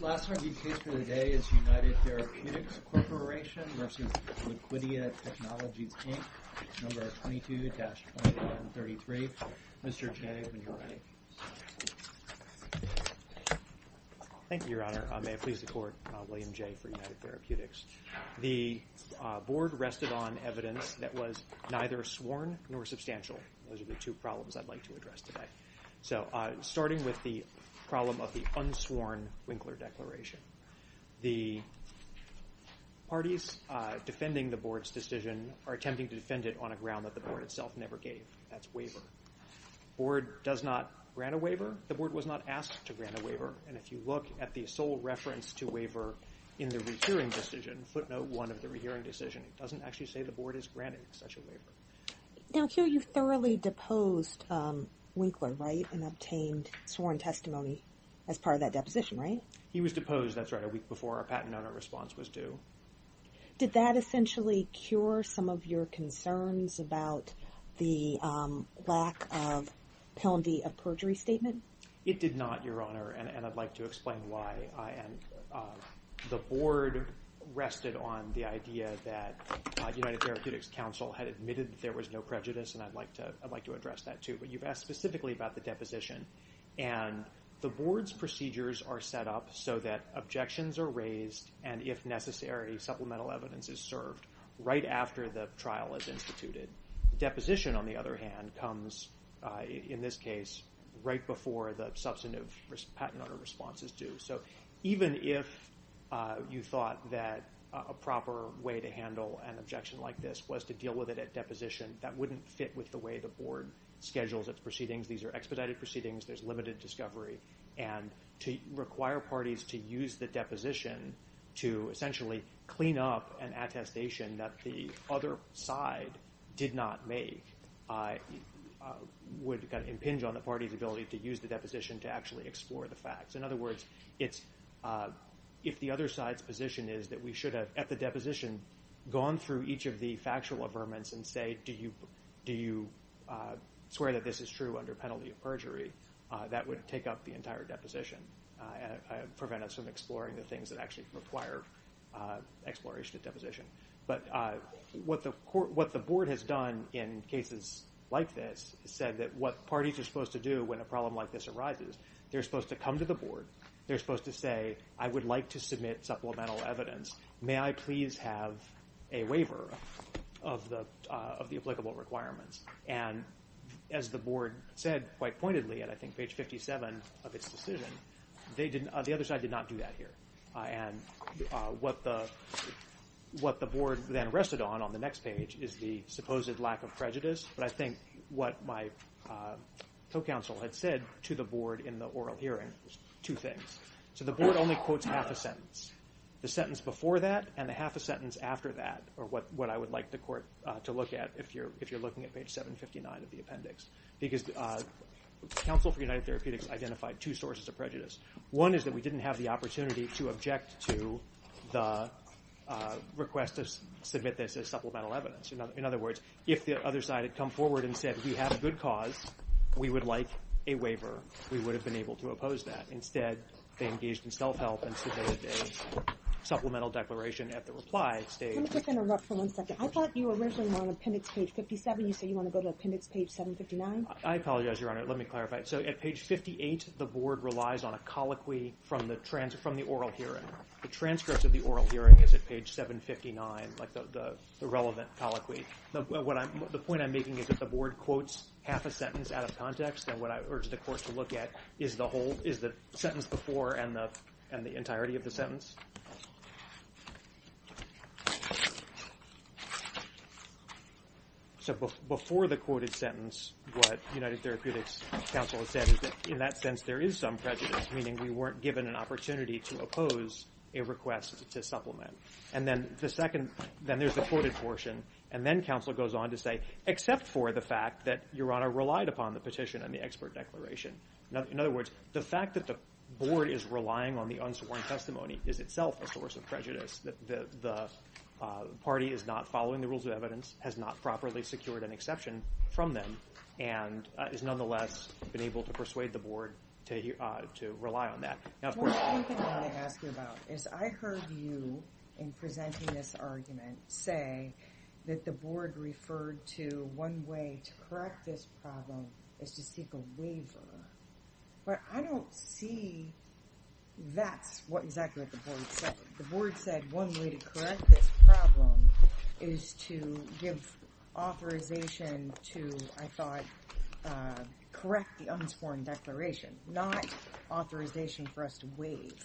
Last argued case for the day is United Therapeutics Corporation v. Liquidia Technologies, Inc., No. 22-2133. Mr. Jay, when you're ready. Thank you, Your Honor. May it please the Court, William Jay for United Therapeutics. The board rested on evidence that was neither sworn nor substantial. Those are the two problems I'd like to address today. So, starting with the problem of the unsworn Winkler Declaration. The parties defending the board's decision are attempting to defend it on a ground that the board itself never gave. That's waiver. The board does not grant a waiver. The board was not asked to grant a waiver. And if you look at the sole reference to waiver in the rehearing decision, footnote one of the rehearing decision, it doesn't actually say the board has granted such a waiver. Now, I hear you thoroughly deposed Winkler, right, and obtained sworn testimony as part of that deposition, right? He was deposed, that's right, a week before our patent owner response was due. Did that essentially cure some of your concerns about the lack of penalty of perjury statement? It did not, Your Honor, and I'd like to explain why. The board rested on the idea that United Therapeutics Council had admitted there was no prejudice, and I'd like to address that, too. But you've asked specifically about the deposition, and the board's procedures are set up so that objections are raised, and if necessary, supplemental evidence is served right after the trial is instituted. Deposition, on the other hand, comes, in this case, right before the substantive patent owner response is due. So even if you thought that a proper way to handle an objection like this was to deal with it at deposition, that wouldn't fit with the way the board schedules its proceedings. These are expedited proceedings. There's limited discovery, and to require parties to use the deposition to essentially clean up an attestation that the other side did not make would kind of impinge on the party's ability to use the deposition to actually explore the facts. In other words, if the other side's position is that we should have, at the deposition, gone through each of the factual averments and say, do you swear that this is true under penalty of perjury, that would take up the entire deposition and prevent us from exploring the things that actually require exploration at deposition. But what the board has done in cases like this is said that what parties are supposed to do when a problem like this arises, they're supposed to come to the board. They're supposed to say, I would like to submit supplemental evidence. May I please have a waiver of the applicable requirements? And as the board said quite pointedly, and I think page 57 of its decision, the other side did not do that here. And what the board then rested on on the next page is the supposed lack of prejudice. But I think what my co-counsel had said to the board in the oral hearing was two things. So the board only quotes half a sentence. The sentence before that and the half a sentence after that are what I would like the court to look at if you're looking at page 759 of the appendix. Because counsel for United Therapeutics identified two sources of prejudice. One is that we didn't have the opportunity to object to the request to submit this as supplemental evidence. In other words, if the other side had come forward and said we have a good cause, we would like a waiver. We would have been able to oppose that. Instead, they engaged in self-help and submitted a supplemental declaration at the reply stage. Let me just interrupt for one second. I thought you originally were on appendix page 57. You say you want to go to appendix page 759? I apologize, Your Honor. Let me clarify. So at page 58, the board relies on a colloquy from the oral hearing. The transcripts of the oral hearing is at page 759, like the relevant colloquy. The point I'm making is that the board quotes half a sentence out of context, and what I urge the court to look at is the sentence before and the entirety of the sentence. So before the quoted sentence, what United Therapeutics counsel has said is that in that sense there is some prejudice, meaning we weren't given an opportunity to oppose a request to supplement. And then there's the quoted portion, and then counsel goes on to say, except for the fact that Your Honor relied upon the petition and the expert declaration. In other words, the fact that the board is relying on the unsworn testimony is itself a source of prejudice. The party is not following the rules of evidence, has not properly secured an exception from them, and has nonetheless been able to persuade the board to rely on that. The only thing I want to ask you about is I heard you, in presenting this argument, say that the board referred to one way to correct this problem is to seek a waiver. But I don't see that's exactly what the board said. The board said one way to correct this problem is to give authorization to, I thought, correct the unsworn declaration, not authorization for us to waive.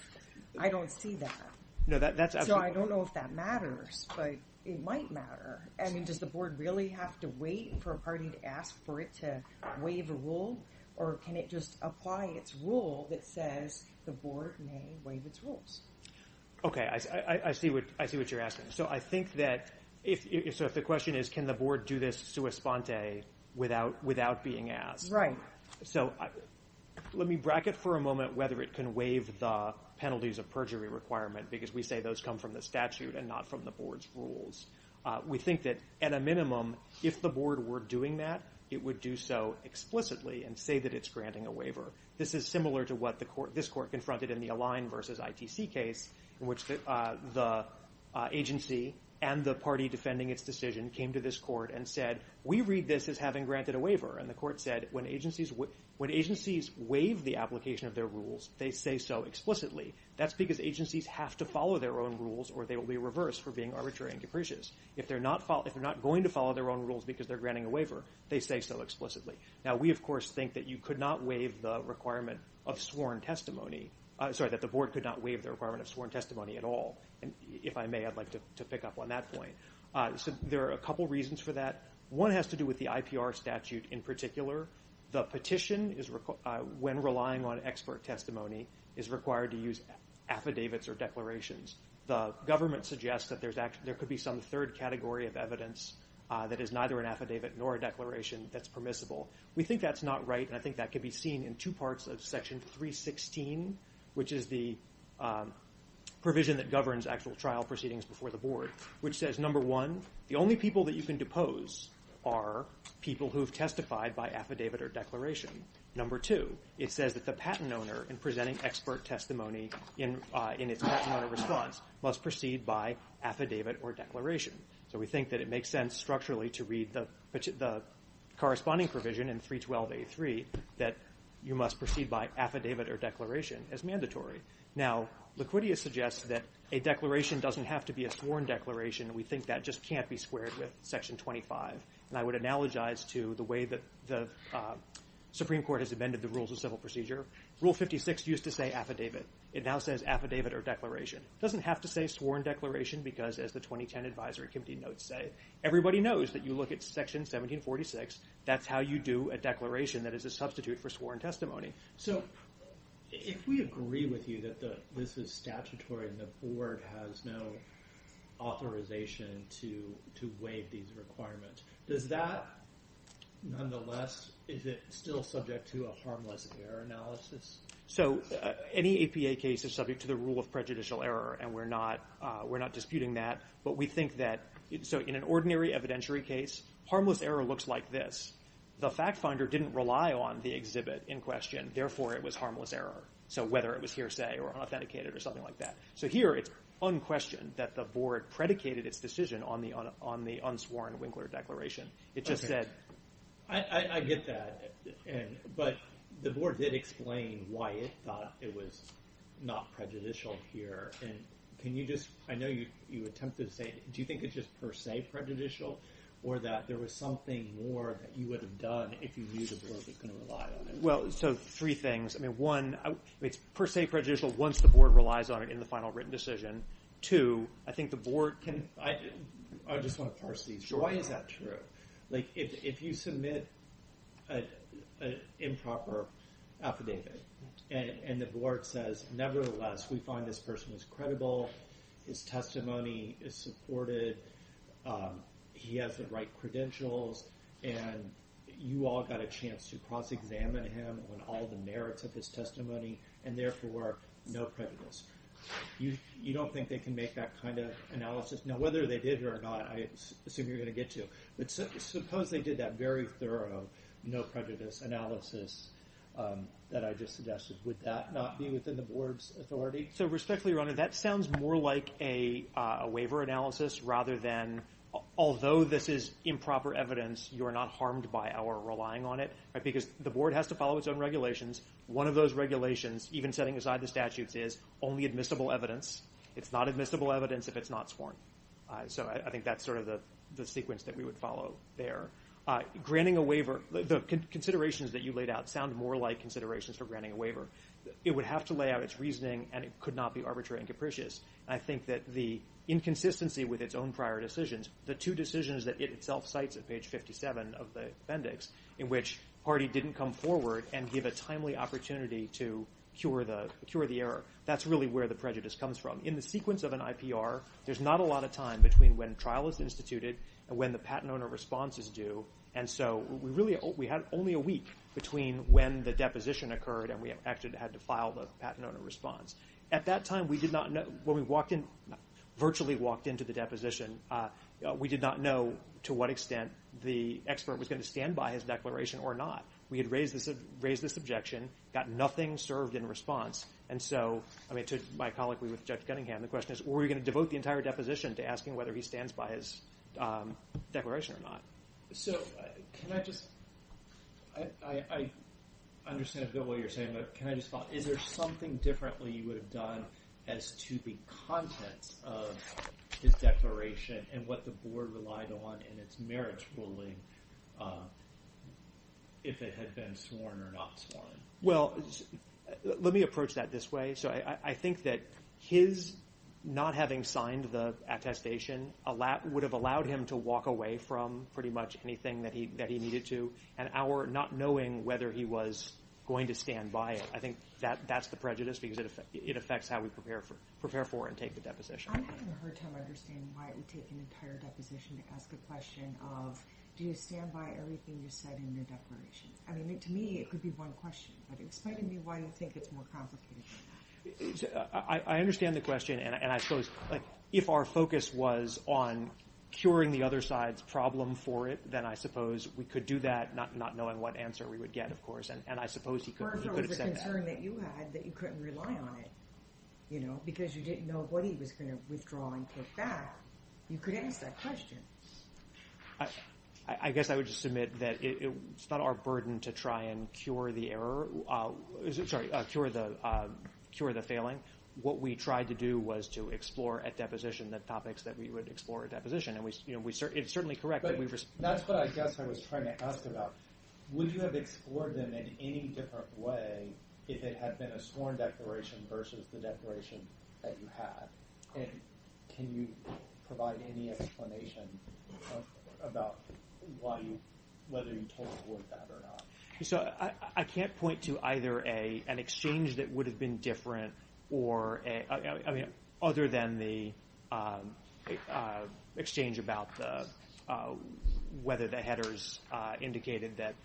I don't see that. So I don't know if that matters, but it might matter. I mean, does the board really have to wait for a party to ask for it to waive a rule, or can it just apply its rule that says the board may waive its rules? Okay. I see what you're asking. So I think that if the question is can the board do this sua sponte without being asked. So let me bracket for a moment whether it can waive the penalties of perjury requirement, because we say those come from the statute and not from the board's rules. We think that, at a minimum, if the board were doing that, it would do so explicitly and say that it's granting a waiver. This is similar to what this court confronted in the Align versus ITC case, in which the agency and the party defending its decision came to this court and said, we read this as having granted a waiver. And the court said when agencies waive the application of their rules, they say so explicitly. That's because agencies have to follow their own rules, or they will be reversed for being arbitrary and capricious. If they're not going to follow their own rules because they're granting a waiver, they say so explicitly. Now, we, of course, think that you could not waive the requirement of sworn testimony. Sorry, that the board could not waive the requirement of sworn testimony at all. If I may, I'd like to pick up on that point. There are a couple reasons for that. One has to do with the IPR statute in particular. The petition, when relying on expert testimony, is required to use affidavits or declarations. The government suggests that there could be some third category of evidence that is neither an affidavit nor a declaration that's permissible. We think that's not right, and I think that could be seen in two parts of Section 316, which is the provision that governs actual trial proceedings before the board, which says, number one, the only people that you can depose are people who have testified by affidavit or declaration. Number two, it says that the patent owner, in presenting expert testimony in its patent owner response, must proceed by affidavit or declaration. So we think that it makes sense structurally to read the corresponding provision in 312A3 that you must proceed by affidavit or declaration as mandatory. Now, Liquidius suggests that a declaration doesn't have to be a sworn declaration. We think that just can't be squared with Section 25, and I would analogize to the way that the Supreme Court has amended the Rules of Civil Procedure. Rule 56 used to say affidavit. It now says affidavit or declaration. It doesn't have to say sworn declaration because, as the 2010 Advisory Committee notes, everybody knows that you look at Section 1746. That's how you do a declaration that is a substitute for sworn testimony. So if we agree with you that this is statutory and the board has no authorization to waive these requirements, does that, nonetheless, is it still subject to a harmless error analysis? So any APA case is subject to the rule of prejudicial error, and we're not disputing that. But we think that in an ordinary evidentiary case, harmless error looks like this. The fact finder didn't rely on the exhibit in question. Therefore, it was harmless error, so whether it was hearsay or unauthenticated or something like that. So here it's unquestioned that the board predicated its decision on the unsworn Winkler Declaration. I get that, but the board did explain why it thought it was not prejudicial here. I know you attempted to say, do you think it's just per se prejudicial or that there was something more that you would have done if you knew the board was going to rely on it? Well, so three things. One, it's per se prejudicial once the board relies on it in the final written decision. Two, I think the board can – I just want to parse these. Why is that true? If you submit an improper affidavit and the board says, nevertheless, we find this person is credible, his testimony is supported, he has the right credentials, and you all got a chance to cross-examine him on all the merits of his testimony, and therefore, no prejudice. You don't think they can make that kind of analysis? Now, whether they did or not, I assume you're going to get to. But suppose they did that very thorough no prejudice analysis that I just suggested. Would that not be within the board's authority? So respectfully, Your Honor, that sounds more like a waiver analysis rather than, although this is improper evidence, you are not harmed by our relying on it, because the board has to follow its own regulations. One of those regulations, even setting aside the statutes, is only admissible evidence. It's not admissible evidence if it's not sworn. So I think that's sort of the sequence that we would follow there. Granting a waiver, the considerations that you laid out sound more like considerations for granting a waiver. It would have to lay out its reasoning, and it could not be arbitrary and capricious. I think that the inconsistency with its own prior decisions, the two decisions that it itself cites at page 57 of the appendix, in which Hardy didn't come forward and give a timely opportunity to cure the error, that's really where the prejudice comes from. In the sequence of an IPR, there's not a lot of time between when trial is instituted and when the patent owner response is due. And so we had only a week between when the deposition occurred and we actually had to file the patent owner response. At that time, when we virtually walked into the deposition, we did not know to what extent the expert was going to stand by his declaration or not. We had raised this objection, got nothing served in response. And so, I mean, to my colloquy with Judge Cunningham, the question is, were we going to devote the entire deposition to asking whether he stands by his declaration or not? So can I just – I understand a bit of what you're saying, but can I just follow? Is there something differently you would have done as to the content of his declaration and what the board relied on in its merits ruling if it had been sworn or not sworn? Well, let me approach that this way. So I think that his not having signed the attestation would have allowed him to walk away from pretty much anything that he needed to, and our not knowing whether he was going to stand by it, I think that's the prejudice because it affects how we prepare for and take the deposition. I haven't heard him understand why we take an entire deposition to ask a question of, do you stand by everything you said in the declaration? I mean, to me, it could be one question, but explain to me why you think it's more complicated than that. I understand the question, and I suppose if our focus was on curing the other side's problem for it, then I suppose we could do that, not knowing what answer we would get, of course, and I suppose he could have said that. Or if it was a concern that you had that you couldn't rely on it, you know, because you didn't know what he was going to withdraw and take back, you could ask that question. I guess I would just submit that it's not our burden to try and cure the error – sorry, cure the failing. What we tried to do was to explore at deposition the topics that we would explore at deposition, and it's certainly correct that we've – That's what I guess I was trying to ask about. Would you have explored them in any different way if it had been a sworn declaration versus the declaration that you had? And can you provide any explanation about why you – whether you totally avoid that or not? So I can't point to either an exchange that would have been different or – I mean, other than the exchange about whether the headers indicated that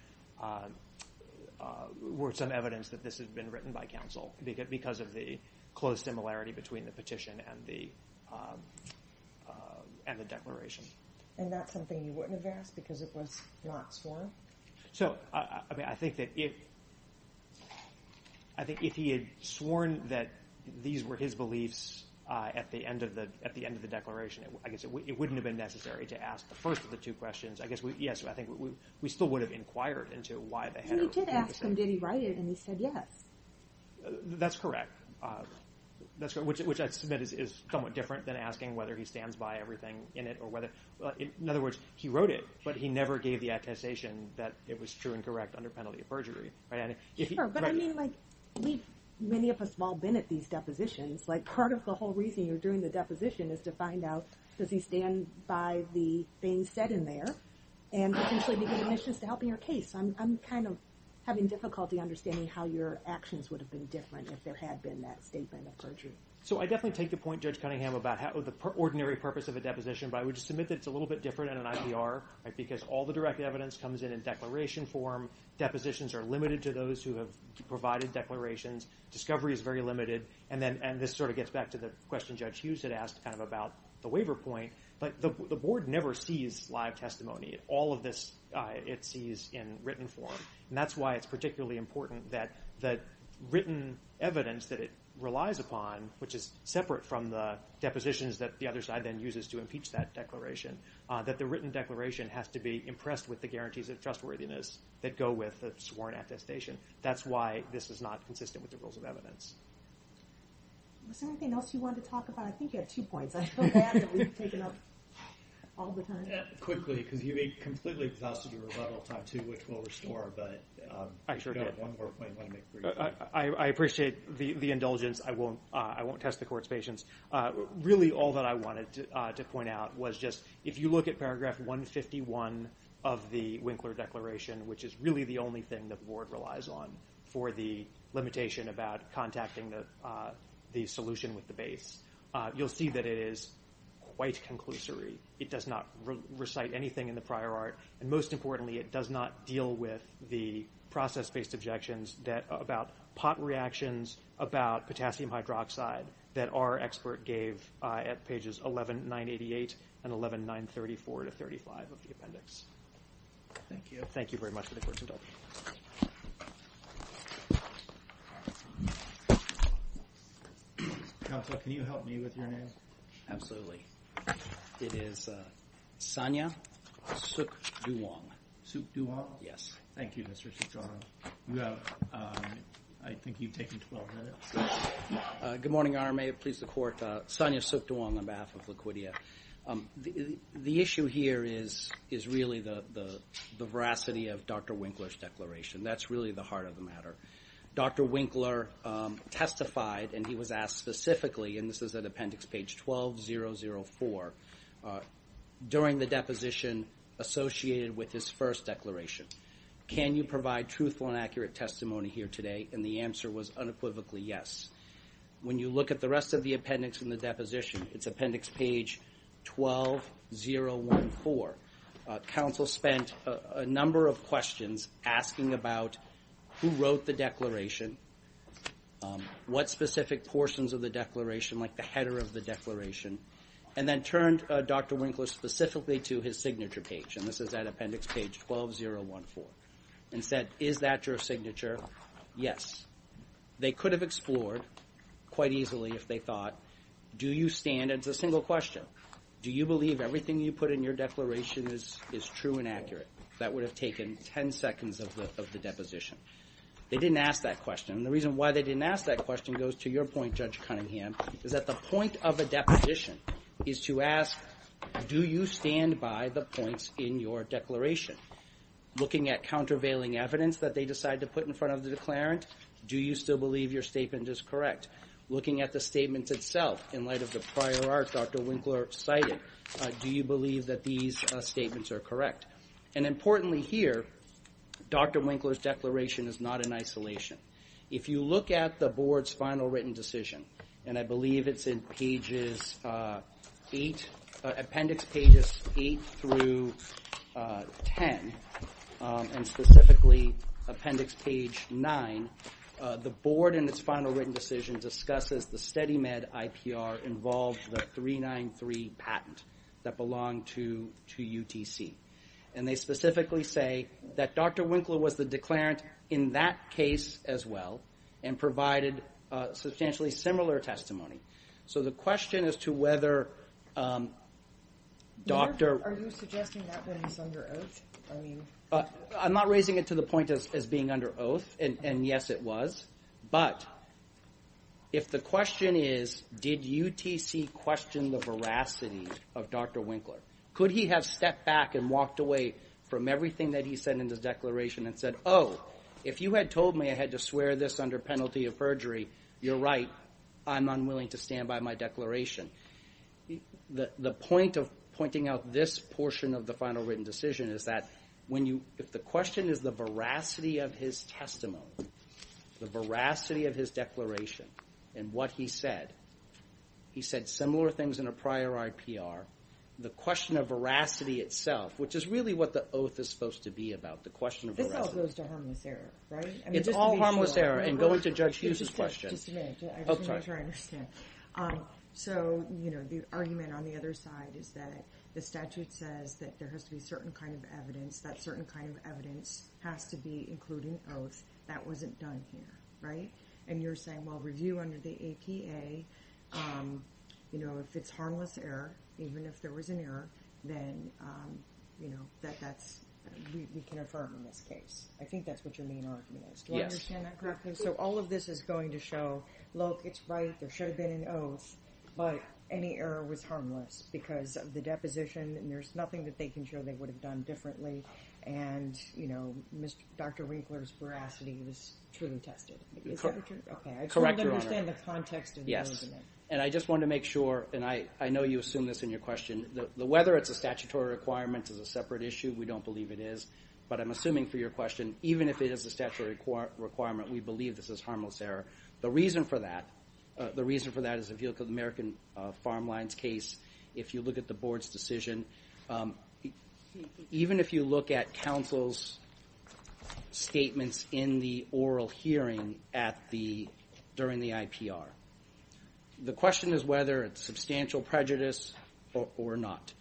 – were some evidence that this had been written by counsel because of the close similarity between the petition and the declaration. And that's something you wouldn't have asked because it was not sworn? So, I mean, I think that if he had sworn that these were his beliefs at the end of the declaration, I guess it wouldn't have been necessary to ask the first of the two questions. I guess, yes, I think we still would have inquired into why the header – So you did ask him, did he write it, and he said yes. That's correct, which I submit is somewhat different than asking whether he stands by everything in it or whether – in other words, he wrote it, but he never gave the attestation that it was true and correct under penalty of perjury. Sure, but I mean, like, we've – many of us have all been at these depositions. Like, part of the whole reason you're doing the deposition is to find out, does he stand by the things said in there? And potentially to get admissions to help in your case. I'm kind of having difficulty understanding how your actions would have been different if there had been that statement of perjury. So I definitely take the point, Judge Cunningham, about the ordinary purpose of a deposition, but I would submit that it's a little bit different in an IPR, because all the direct evidence comes in in declaration form. Depositions are limited to those who have provided declarations. Discovery is very limited. And this sort of gets back to the question Judge Hughes had asked kind of about the waiver point. But the Board never sees live testimony. All of this it sees in written form, and that's why it's particularly important that written evidence that it relies upon, which is separate from the depositions that the other side then uses to impeach that declaration, that the written declaration has to be impressed with the guarantees of trustworthiness that go with a sworn attestation. That's why this is not consistent with the rules of evidence. Was there anything else you wanted to talk about? I think you had two points. I feel bad that we've taken up all the time. Quickly, because you completely exhausted your rebuttal time, too, which we'll restore, but I do have one more point I want to make for you. I appreciate the indulgence. I won't test the Court's patience. Really all that I wanted to point out was just if you look at Paragraph 151 of the Winkler Declaration, which is really the only thing that the Board relies on for the limitation about contacting the solution with the base, you'll see that it is quite conclusory. It does not recite anything in the prior art, and most importantly, it does not deal with the process-based objections about pot reactions, about potassium hydroxide that our expert gave at Pages 11-988 and 11-934-35 of the appendix. Thank you. Thank you very much for the Court's indulgence. Counsel, can you help me with your name? Absolutely. It is Sanya Suk Duong. Suk Duong? Yes. Thank you, Mr. Cicciaro. I think you've taken 12 minutes. Good morning, Your Honor. May it please the Court. Sanya Suk Duong on behalf of Laquitia. The issue here is really the veracity of Dr. Winkler's declaration. That's really the heart of the matter. Dr. Winkler testified, and he was asked specifically, and this is at Appendix Page 12004, during the deposition associated with his first declaration, can you provide truthful and accurate testimony here today? And the answer was unequivocally yes. When you look at the rest of the appendix in the deposition, it's Appendix Page 12014, counsel spent a number of questions asking about who wrote the declaration, what specific portions of the declaration, like the header of the declaration, and then turned Dr. Winkler specifically to his signature page, and this is at Appendix Page 12014, and said, is that your signature? Yes. They could have explored quite easily if they thought, do you stand, and it's a single question, do you believe everything you put in your declaration is true and accurate? That would have taken 10 seconds of the deposition. They didn't ask that question. And the reason why they didn't ask that question goes to your point, Judge Cunningham, is that the point of a deposition is to ask, do you stand by the points in your declaration? Looking at countervailing evidence that they decide to put in front of the declarant, do you still believe your statement is correct? Looking at the statement itself, in light of the prior art Dr. Winkler cited, do you believe that these statements are correct? And importantly here, Dr. Winkler's declaration is not in isolation. If you look at the Board's final written decision, and I believe it's in Appendix Pages 8 through 10, and specifically Appendix Page 9, the Board in its final written decision discusses the SteadyMed IPR involves the 393 patent that belonged to UTC. And they specifically say that Dr. Winkler was the declarant in that case as well and provided substantially similar testimony. So the question as to whether Dr. Are you suggesting that that is under oath? I'm not raising it to the point as being under oath, and yes it was. But if the question is, did UTC question the veracity of Dr. Winkler? Could he have stepped back and walked away from everything that he said in his declaration and said, Oh, if you had told me I had to swear this under penalty of perjury, you're right. I'm unwilling to stand by my declaration. The point of pointing out this portion of the final written decision is that if the question is the veracity of his testimony, the veracity of his declaration, and what he said, he said similar things in a prior IPR, the question of veracity itself, which is really what the oath is supposed to be about. The question of veracity. This all goes to harmless error, right? It's all harmless error. And going to Judge Hughes' question. Just a minute. I just want to make sure I understand. So, you know, the argument on the other side is that the statute says that there has to be certain kind of evidence. That certain kind of evidence has to be including oath. That wasn't done here, right? And you're saying, well, review under the APA, you know, if it's harmless error, even if there was an error, then, you know, that's we can affirm in this case. I think that's what your main argument is. Do I understand that correctly? So all of this is going to show, look, it's right. There should have been an oath, but any error was harmless because of the deposition. And there's nothing that they can show they would have done differently. And, you know, Dr. Winkler's veracity was truly tested. I don't understand the context of the argument. And I just want to make sure, and I know you assume this in your question, whether it's a statutory requirement is a separate issue. We don't believe it is. But I'm assuming for your question, even if it is a statutory requirement, we believe this is harmless error. The reason for that is if you look at the American Farm Line's case, if you look at the board's decision, even if you look at counsel's statements in the oral hearing during the IPR, the question is whether it's substantial prejudice or not.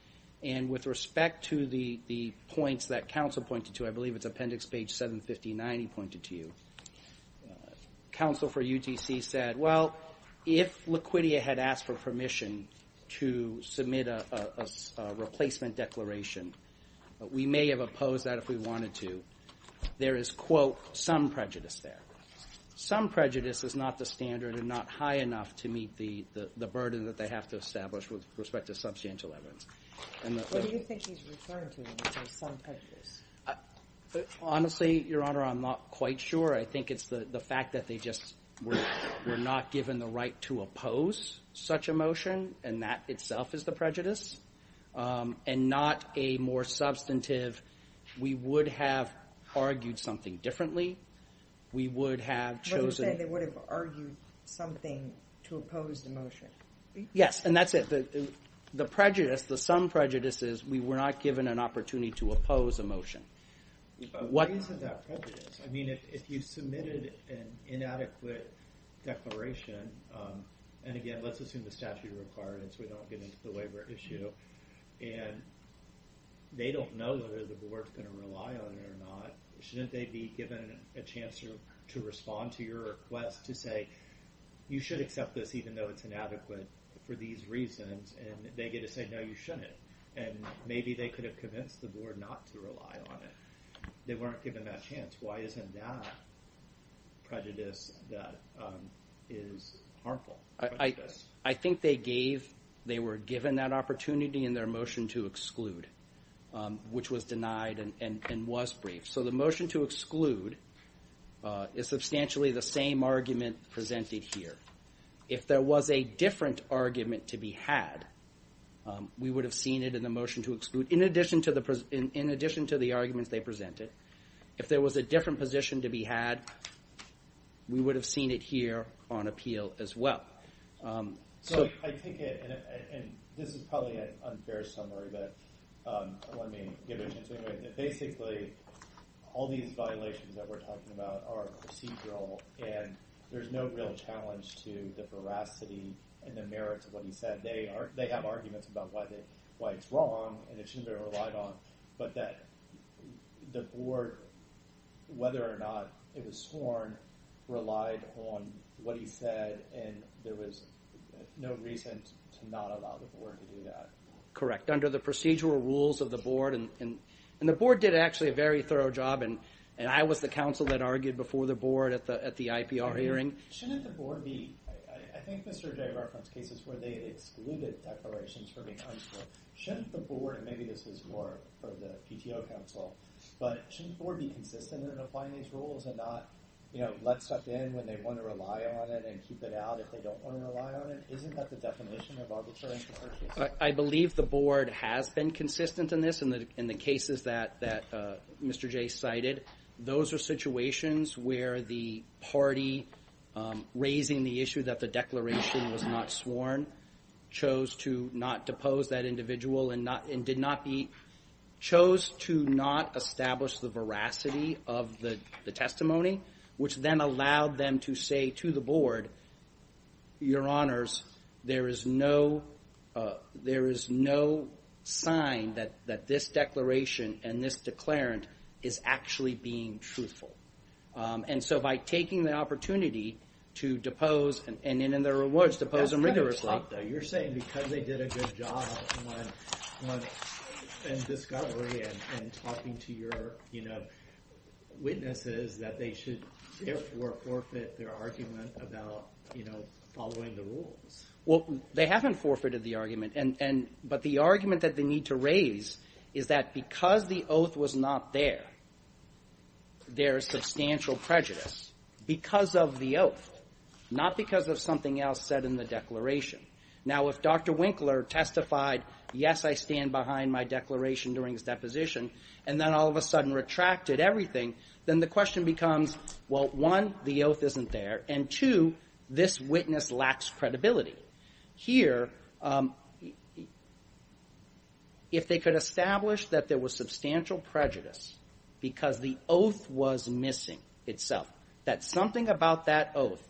And with respect to the points that counsel pointed to, I believe it's appendix page 759 he pointed to, counsel for UTC said, well, if Laquitia had asked for permission to submit a replacement declaration, we may have opposed that if we wanted to. There is, quote, some prejudice there. Some prejudice is not the standard and not high enough to meet the burden that they have to establish with respect to substantial evidence. What do you think he's referring to when he says some prejudice? Honestly, Your Honor, I'm not quite sure. I think it's the fact that they just were not given the right to oppose such a motion, and that itself is the prejudice, and not a more substantive, we would have argued something differently. We would have chosen... But you're saying they would have argued something to oppose the motion. Yes, and that's it. The prejudice, the some prejudice is we were not given an opportunity to oppose a motion. But what is that prejudice? I mean, if you submitted an inadequate declaration, and again, let's assume the statute of requirements, we don't get into the waiver issue, and they don't know whether the board's going to rely on it or not, shouldn't they be given a chance to respond to your request to say, you should accept this even though it's inadequate for these reasons, and they get to say, no, you shouldn't. And maybe they could have convinced the board not to rely on it. They weren't given that chance. Why isn't that prejudice that is harmful? I think they were given that opportunity in their motion to exclude, which was denied and was briefed. So the motion to exclude is substantially the same argument presented here. If there was a different argument to be had, we would have seen it in the motion to exclude. In addition to the arguments they presented, if there was a different position to be had, we would have seen it here on appeal as well. So I think this is probably an unfair summary, but let me give it to you. Basically, all these violations that we're talking about are procedural, and there's no real challenge to the veracity and the merits of what you said. They have arguments about why it's wrong, and it shouldn't be relied on, but that the board, whether or not it was scorned, relied on what he said, and there was no reason to not allow the board to do that. Correct. Under the procedural rules of the board, and the board did actually a very thorough job, and I was the counsel that argued before the board at the IPR hearing. Shouldn't the board be, I think Mr. Jay referenced cases where they excluded declarations from being unscored. So shouldn't the board, and maybe this is more for the PTO counsel, but shouldn't the board be consistent in applying these rules and not let stuff in when they want to rely on it and keep it out if they don't want to rely on it? Isn't that the definition of arbitration? I believe the board has been consistent in this, in the cases that Mr. Jay cited. Those are situations where the party raising the issue that the declaration was not sworn chose to not depose that individual and chose to not establish the veracity of the testimony, which then allowed them to say to the board, your honors, there is no sign that this declaration and this declarant is actually being truthful. And so by taking the opportunity to depose, and in their words, depose them rigorously. You're saying because they did a good job in discovery and talking to your witnesses that they should therefore forfeit their argument about following the rules. Well, they haven't forfeited the argument, but the argument that they need to raise there is substantial prejudice because of the oath, not because of something else said in the declaration. Now if Dr. Winkler testified, yes, I stand behind my declaration during his deposition, and then all of a sudden retracted everything, then the question becomes, well, one, the oath isn't there, and two, this witness lacks credibility. Here, if they could establish that there was substantial prejudice because the oath was missing itself, that something about that oath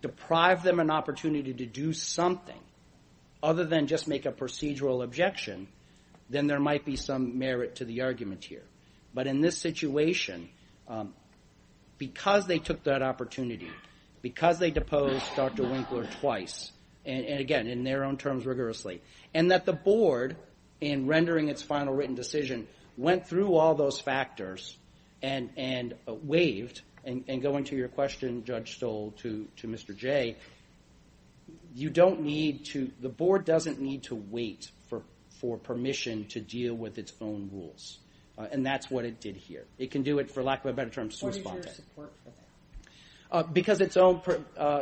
deprived them an opportunity to do something other than just make a procedural objection, then there might be some merit to the argument here. But in this situation, because they took that opportunity, because they deposed Dr. Winkler twice, and again, in their own terms, rigorously, and that the board, in rendering its final written decision, went through all those factors and waived, and going to your question, Judge Stoll, to Mr. Jay, you don't need to, the board doesn't need to wait for permission to deal with its own rules. And that's what it did here. It can do it, for lack of a better term, suspended. Because its own,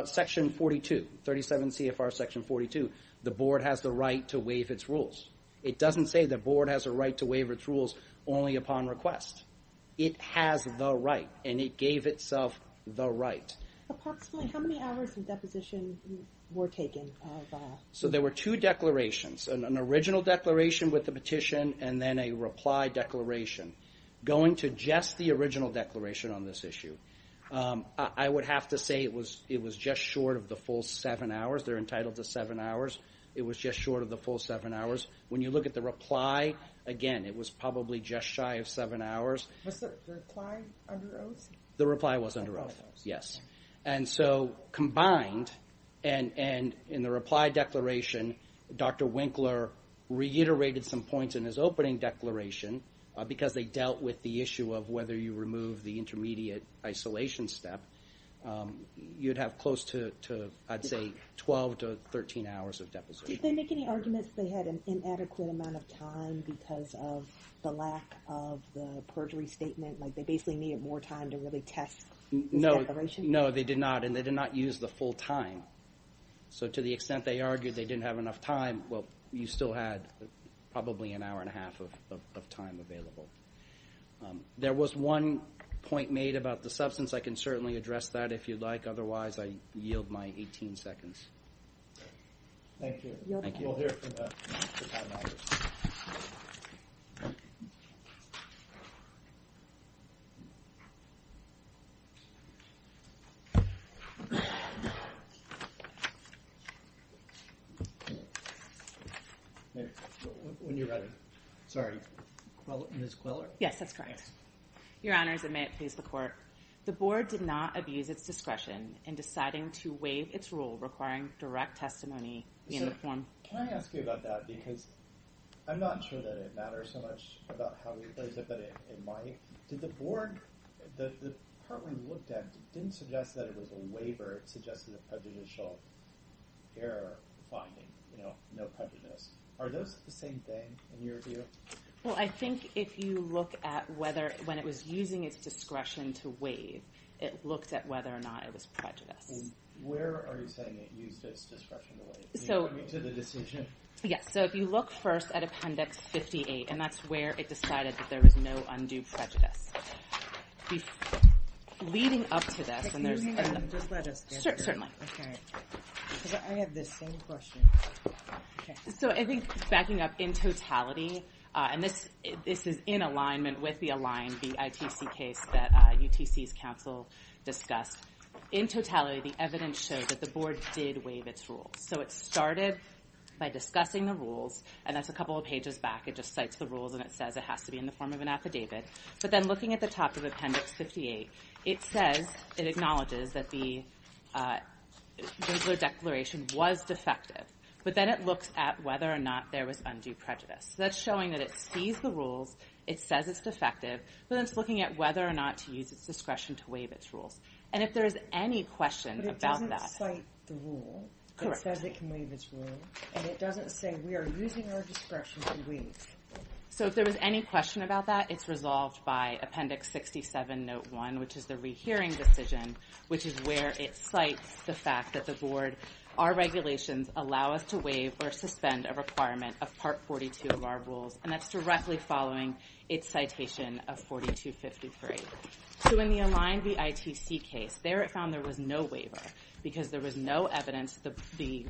Section 42, 37 CFR Section 42, the board has the right to waive its rules. It doesn't say the board has a right to waive its rules only upon request. It has the right, and it gave itself the right. Approximately how many hours of deposition were taken? So there were two declarations. An original declaration with the petition, and then a reply declaration. Going to just the original declaration on this issue, I would have to say it was just short of the full seven hours. It was just short of the full seven hours. When you look at the reply, again, it was probably just shy of seven hours. Was the reply under oath? The reply was under oath, yes. And so combined, and in the reply declaration, Dr. Winkler reiterated some points in his opening declaration, because they dealt with the issue of whether you remove the intermediate isolation step. You'd have close to, I'd say, 12 to 13 hours of deposition. Did they make any arguments that they had an inadequate amount of time because of the lack of the perjury statement? Like they basically needed more time to really test the declaration? No, they did not, and they did not use the full time. So to the extent they argued they didn't have enough time, well, you still had probably an hour and a half of time available. There was one point made about the substance. I can certainly address that if you'd like. Otherwise, I yield my 18 seconds. Thank you. You'll hear from the time hours. When you're ready. Sorry. Ms. Quiller? Yes, that's correct. Your Honors, and may it please the Court. The Board did not abuse its discretion in deciding to waive its rule requiring direct testimony in the form. Can I ask you about that? Because I'm not sure that it matters so much about how we place it, but it might. Did the Board, the part we looked at, didn't suggest that it was a waiver. It suggested a prejudicial error finding, you know, no prejudice. Are those the same thing in your view? Well, I think if you look at whether, when it was using its discretion to waive, it looked at whether or not it was prejudiced. Where are you saying it used its discretion to waive? Do you mean to the decision? Yes, so if you look first at Appendix 58, and that's where it decided that there was no undue prejudice. Leading up to this, and there's... Can you hang on? Just let us answer. Certainly. Okay. Because I have the same question. So I think backing up in totality, and this is in alignment with the Align BITC case that UTC's counsel discussed, in totality, the evidence shows that the Board did waive its rules. So it started by discussing the rules, and that's a couple of pages back. It just cites the rules, and it says it has to be in the form of an affidavit. But then looking at the top of Appendix 58, it says, it acknowledges, that the Gensler Declaration was defective. But then it looks at whether or not there was undue prejudice. So that's showing that it sees the rules, it says it's defective, but then it's looking at whether or not to use its discretion to waive its rules. And if there is any question about that... But it doesn't cite the rule. Correct. It says it can waive its rule, and it doesn't say we are using our discretion to waive. So if there was any question about that, it's resolved by Appendix 67, Note 1, which is the rehearing decision, which is where it cites the fact that the Board, our regulations allow us to waive or suspend a requirement of Part 42 of our rules, and that's directly following its citation of 4253. So in the Aligned v. ITC case, there it found there was no waiver, because there was no evidence that the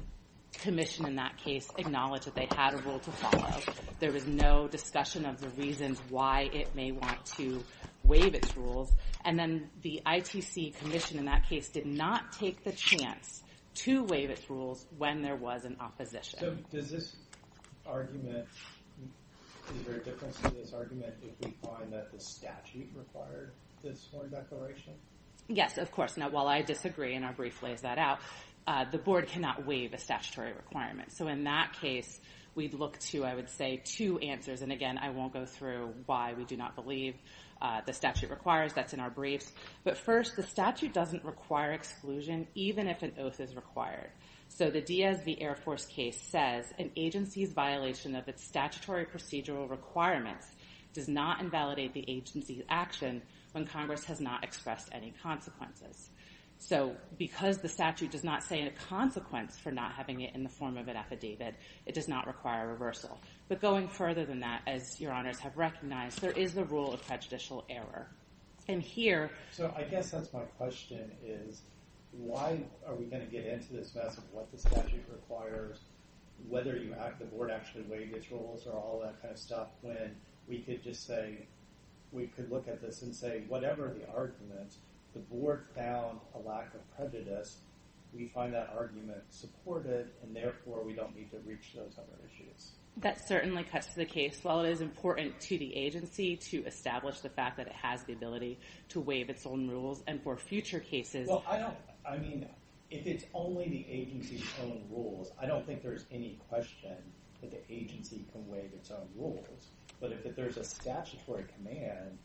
commission in that case acknowledged that they had a rule to follow. There was no discussion of the reasons why it may want to waive its rules. And then the ITC commission in that case did not take the chance to waive its rules when there was an opposition. So does this argument... Is there a difference in this argument if we find that the statute required this one declaration? Yes, of course. Now, while I disagree, and our brief lays that out, the Board cannot waive a statutory requirement. So in that case, we'd look to, I would say, two answers. And again, I won't go through why we do not believe the statute requires. That's in our briefs. But first, the statute doesn't require exclusion even if an oath is required. So the DSV Air Force case says an agency's violation of its statutory procedural requirements does not invalidate the agency's action when Congress has not expressed any consequences. So because the statute does not say a consequence for not having it in the form of an affidavit, it does not require a reversal. But going further than that, as your honors have recognized, there is the rule of prejudicial error. And here... So I guess that's my question, is why are we going to get into this mess of what the statute requires, whether the Board actually waives its rules or all that kind of stuff, when we could just say... We could look at this and say, whatever the argument, the Board found a lack of prejudice. We find that argument supported, and therefore, we don't need to reach those other issues. That certainly cuts to the case. While it is important to the agency to establish the fact that it has the ability to waive its own rules, and for future cases... Well, I don't... I mean, if it's only the agency's own rules, I don't think there's any question that the agency can waive its own rules. But if there's a statutory command,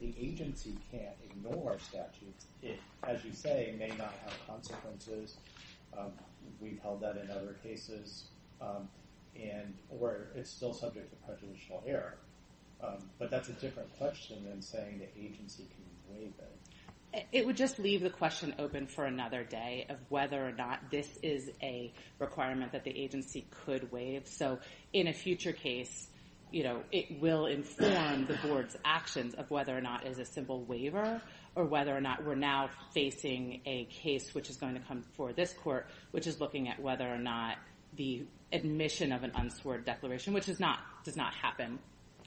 the agency can't ignore statutes. It, as you say, may not have consequences. We've held that in other cases. And... Or it's still subject to prejudicial error. But that's a different question than saying the agency can waive it. It would just leave the question open for another day of whether or not this is a requirement that the agency could waive. So in a future case, you know, it will inform the Board's actions of whether or not it is a simple waiver, or whether or not we're now facing a case which is going to come before this court, which is looking at whether or not the admission of an unsworn declaration, which does not happen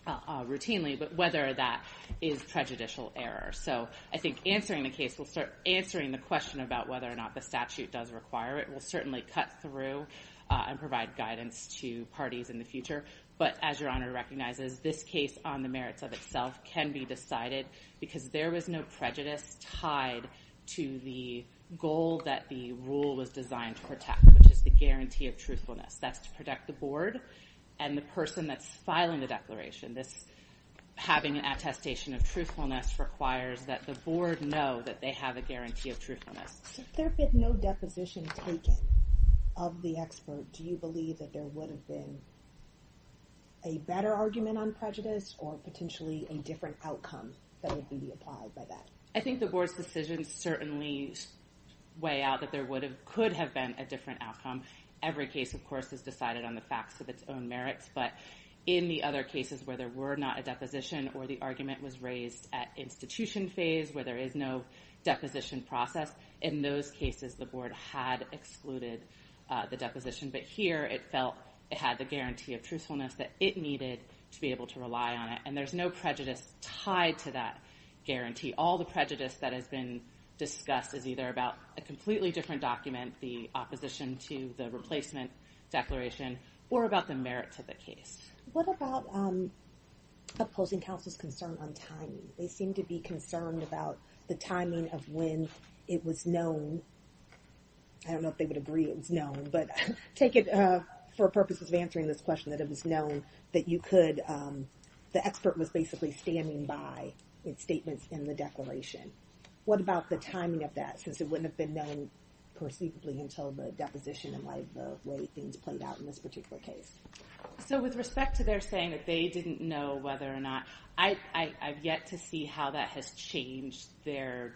routinely, but whether that is prejudicial error. So I think answering the case will start answering the question about whether or not the statute does require it. We'll certainly cut through and provide guidance to parties in the future. But as Your Honor recognizes, this case on the merits of itself can be decided because there was no prejudice tied to the goal that the rule was designed to protect, which is the guarantee of truthfulness. That's to protect the Board and the person that's filing the declaration. This having an attestation of truthfulness requires that the Board know that they have a guarantee of truthfulness. If there had been no deposition taken of the expert, do you believe that there would have been a better argument on prejudice or potentially a different outcome that would be applied by that? I think the Board's decisions certainly weigh out that there could have been a different outcome. Every case, of course, But in the other cases where there were not a deposition or the argument was raised at institution phase, where there is no deposition process, in those cases the Board had excluded the deposition. But here it felt it had the guarantee of truthfulness that it needed to be able to rely on it. And there's no prejudice tied to that guarantee. All the prejudice that has been discussed is either about a completely different document, the opposition to the replacement declaration, or about the merit to the case. What about opposing counsel's concern on timing? They seem to be concerned about the timing of when it was known. I don't know if they would agree it was known, but take it for purposes of answering this question that it was known that you could, the expert was basically standing by its statements in the declaration. What about the timing of that, since it wouldn't have been known perceivably until the deposition and the way things played out in this particular case? So with respect to their saying that they didn't know whether or not, I've yet to see how that has changed their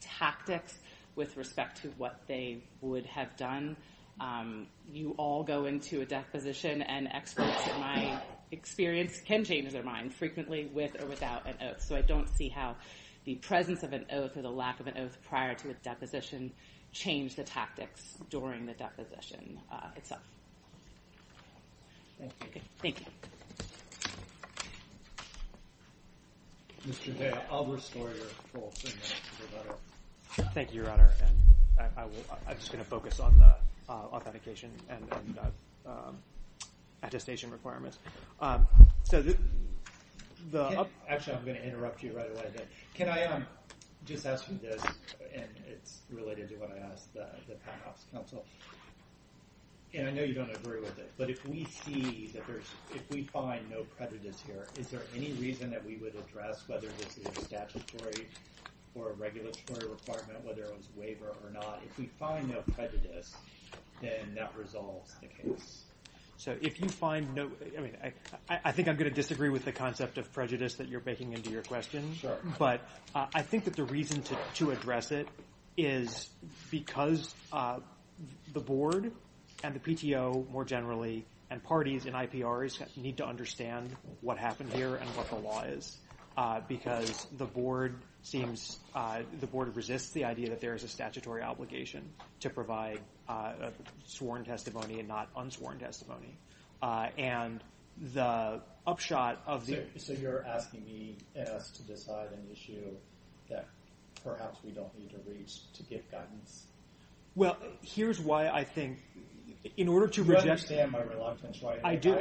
tactics with respect to what they would have done. You all go into a deposition, and experts in my experience can change their mind frequently with or without an oath. So I don't see how the presence of an oath or the lack of an oath prior to a deposition change the tactics during the deposition itself. Thank you. Thank you. Mr. Day, I'll restore your full signature, Your Honor. Thank you, Your Honor. I'm just going to focus on the authentication and attestation requirements. Actually, I'm going to interrupt you right away. Can I just ask you this, and it's related to what I asked the panel's counsel. And I know you don't agree with it, but if we see that there's, if we find no prejudice here, is there any reason that we would address whether this is a statutory or a regulatory requirement, whether it was waiver or not? If we find no prejudice, then that resolves the case. So if you find no, I mean, I think I'm going to disagree with the concept of prejudice that you're baking into your question. But I think that the reason to address it is because the board and the PTO more generally and parties and IPRs need to understand what happened here and what the law is. Because the board seems, the board resists the idea that there is a statutory obligation to provide sworn testimony and not unsworn testimony. And the upshot of the... So you're asking me and us to decide an issue that perhaps we don't need to reach to get guidance? Well, here's why I think, in order to reject... You understand my reluctance, right? I do.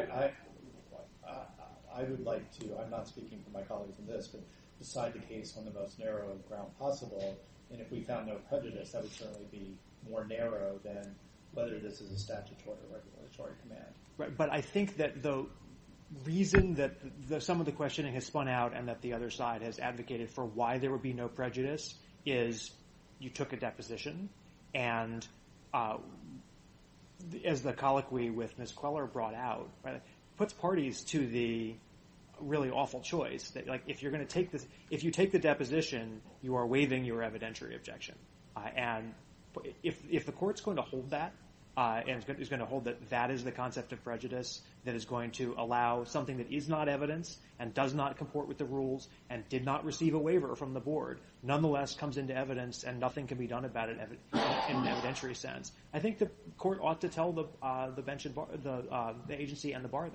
I would like to, I'm not speaking for my colleagues in this, but decide the case on the most narrow ground possible. And if we found no prejudice, that would certainly be more narrow than whether this is a statutory or regulatory command. Right, but I think that the reason that some of the questioning has spun out and that the other side has advocated for why there would be no prejudice is you took a deposition and, as the colloquy with Ms. Queller brought out, puts parties to the really awful choice. Like, if you're going to take this... If you take the deposition, you are waiving your evidentiary objection. And if the court's going to hold that and is going to hold that that is the concept of prejudice that is going to allow something that is not evidence and does not comport with the rules and did not receive a waiver from the board, nonetheless comes into evidence and nothing can be done about it in an evidentiary sense, I think the court ought to tell the agency and the bar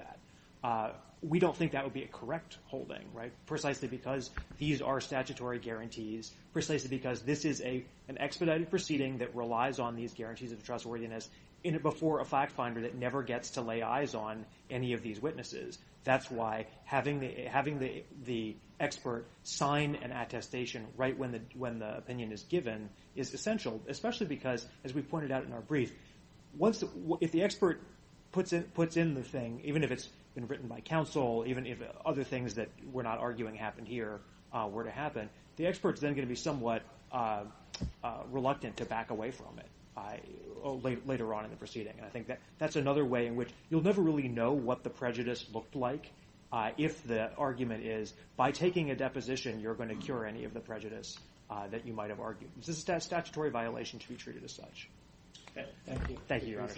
that. We don't think that would be a correct holding, right, precisely because these are statutory guarantees, precisely because this is an expedited proceeding that relies on these guarantees of trustworthiness before a factfinder that never gets to lay eyes on any of these witnesses. That's why having the expert sign an attestation right when the opinion is given is essential, especially because, as we pointed out in our brief, if the expert puts in the thing, even if it's been written by counsel, even if other things that we're not arguing happened here were to happen, the expert is then going to be somewhat reluctant to back away from it later on in the proceeding. I think that's another way in which you'll never really know what the prejudice looked like if the argument is by taking a deposition you're going to cure any of the prejudice that you might have argued. This is a statutory violation to be treated as such. Thank you. Thank you, Your Honor.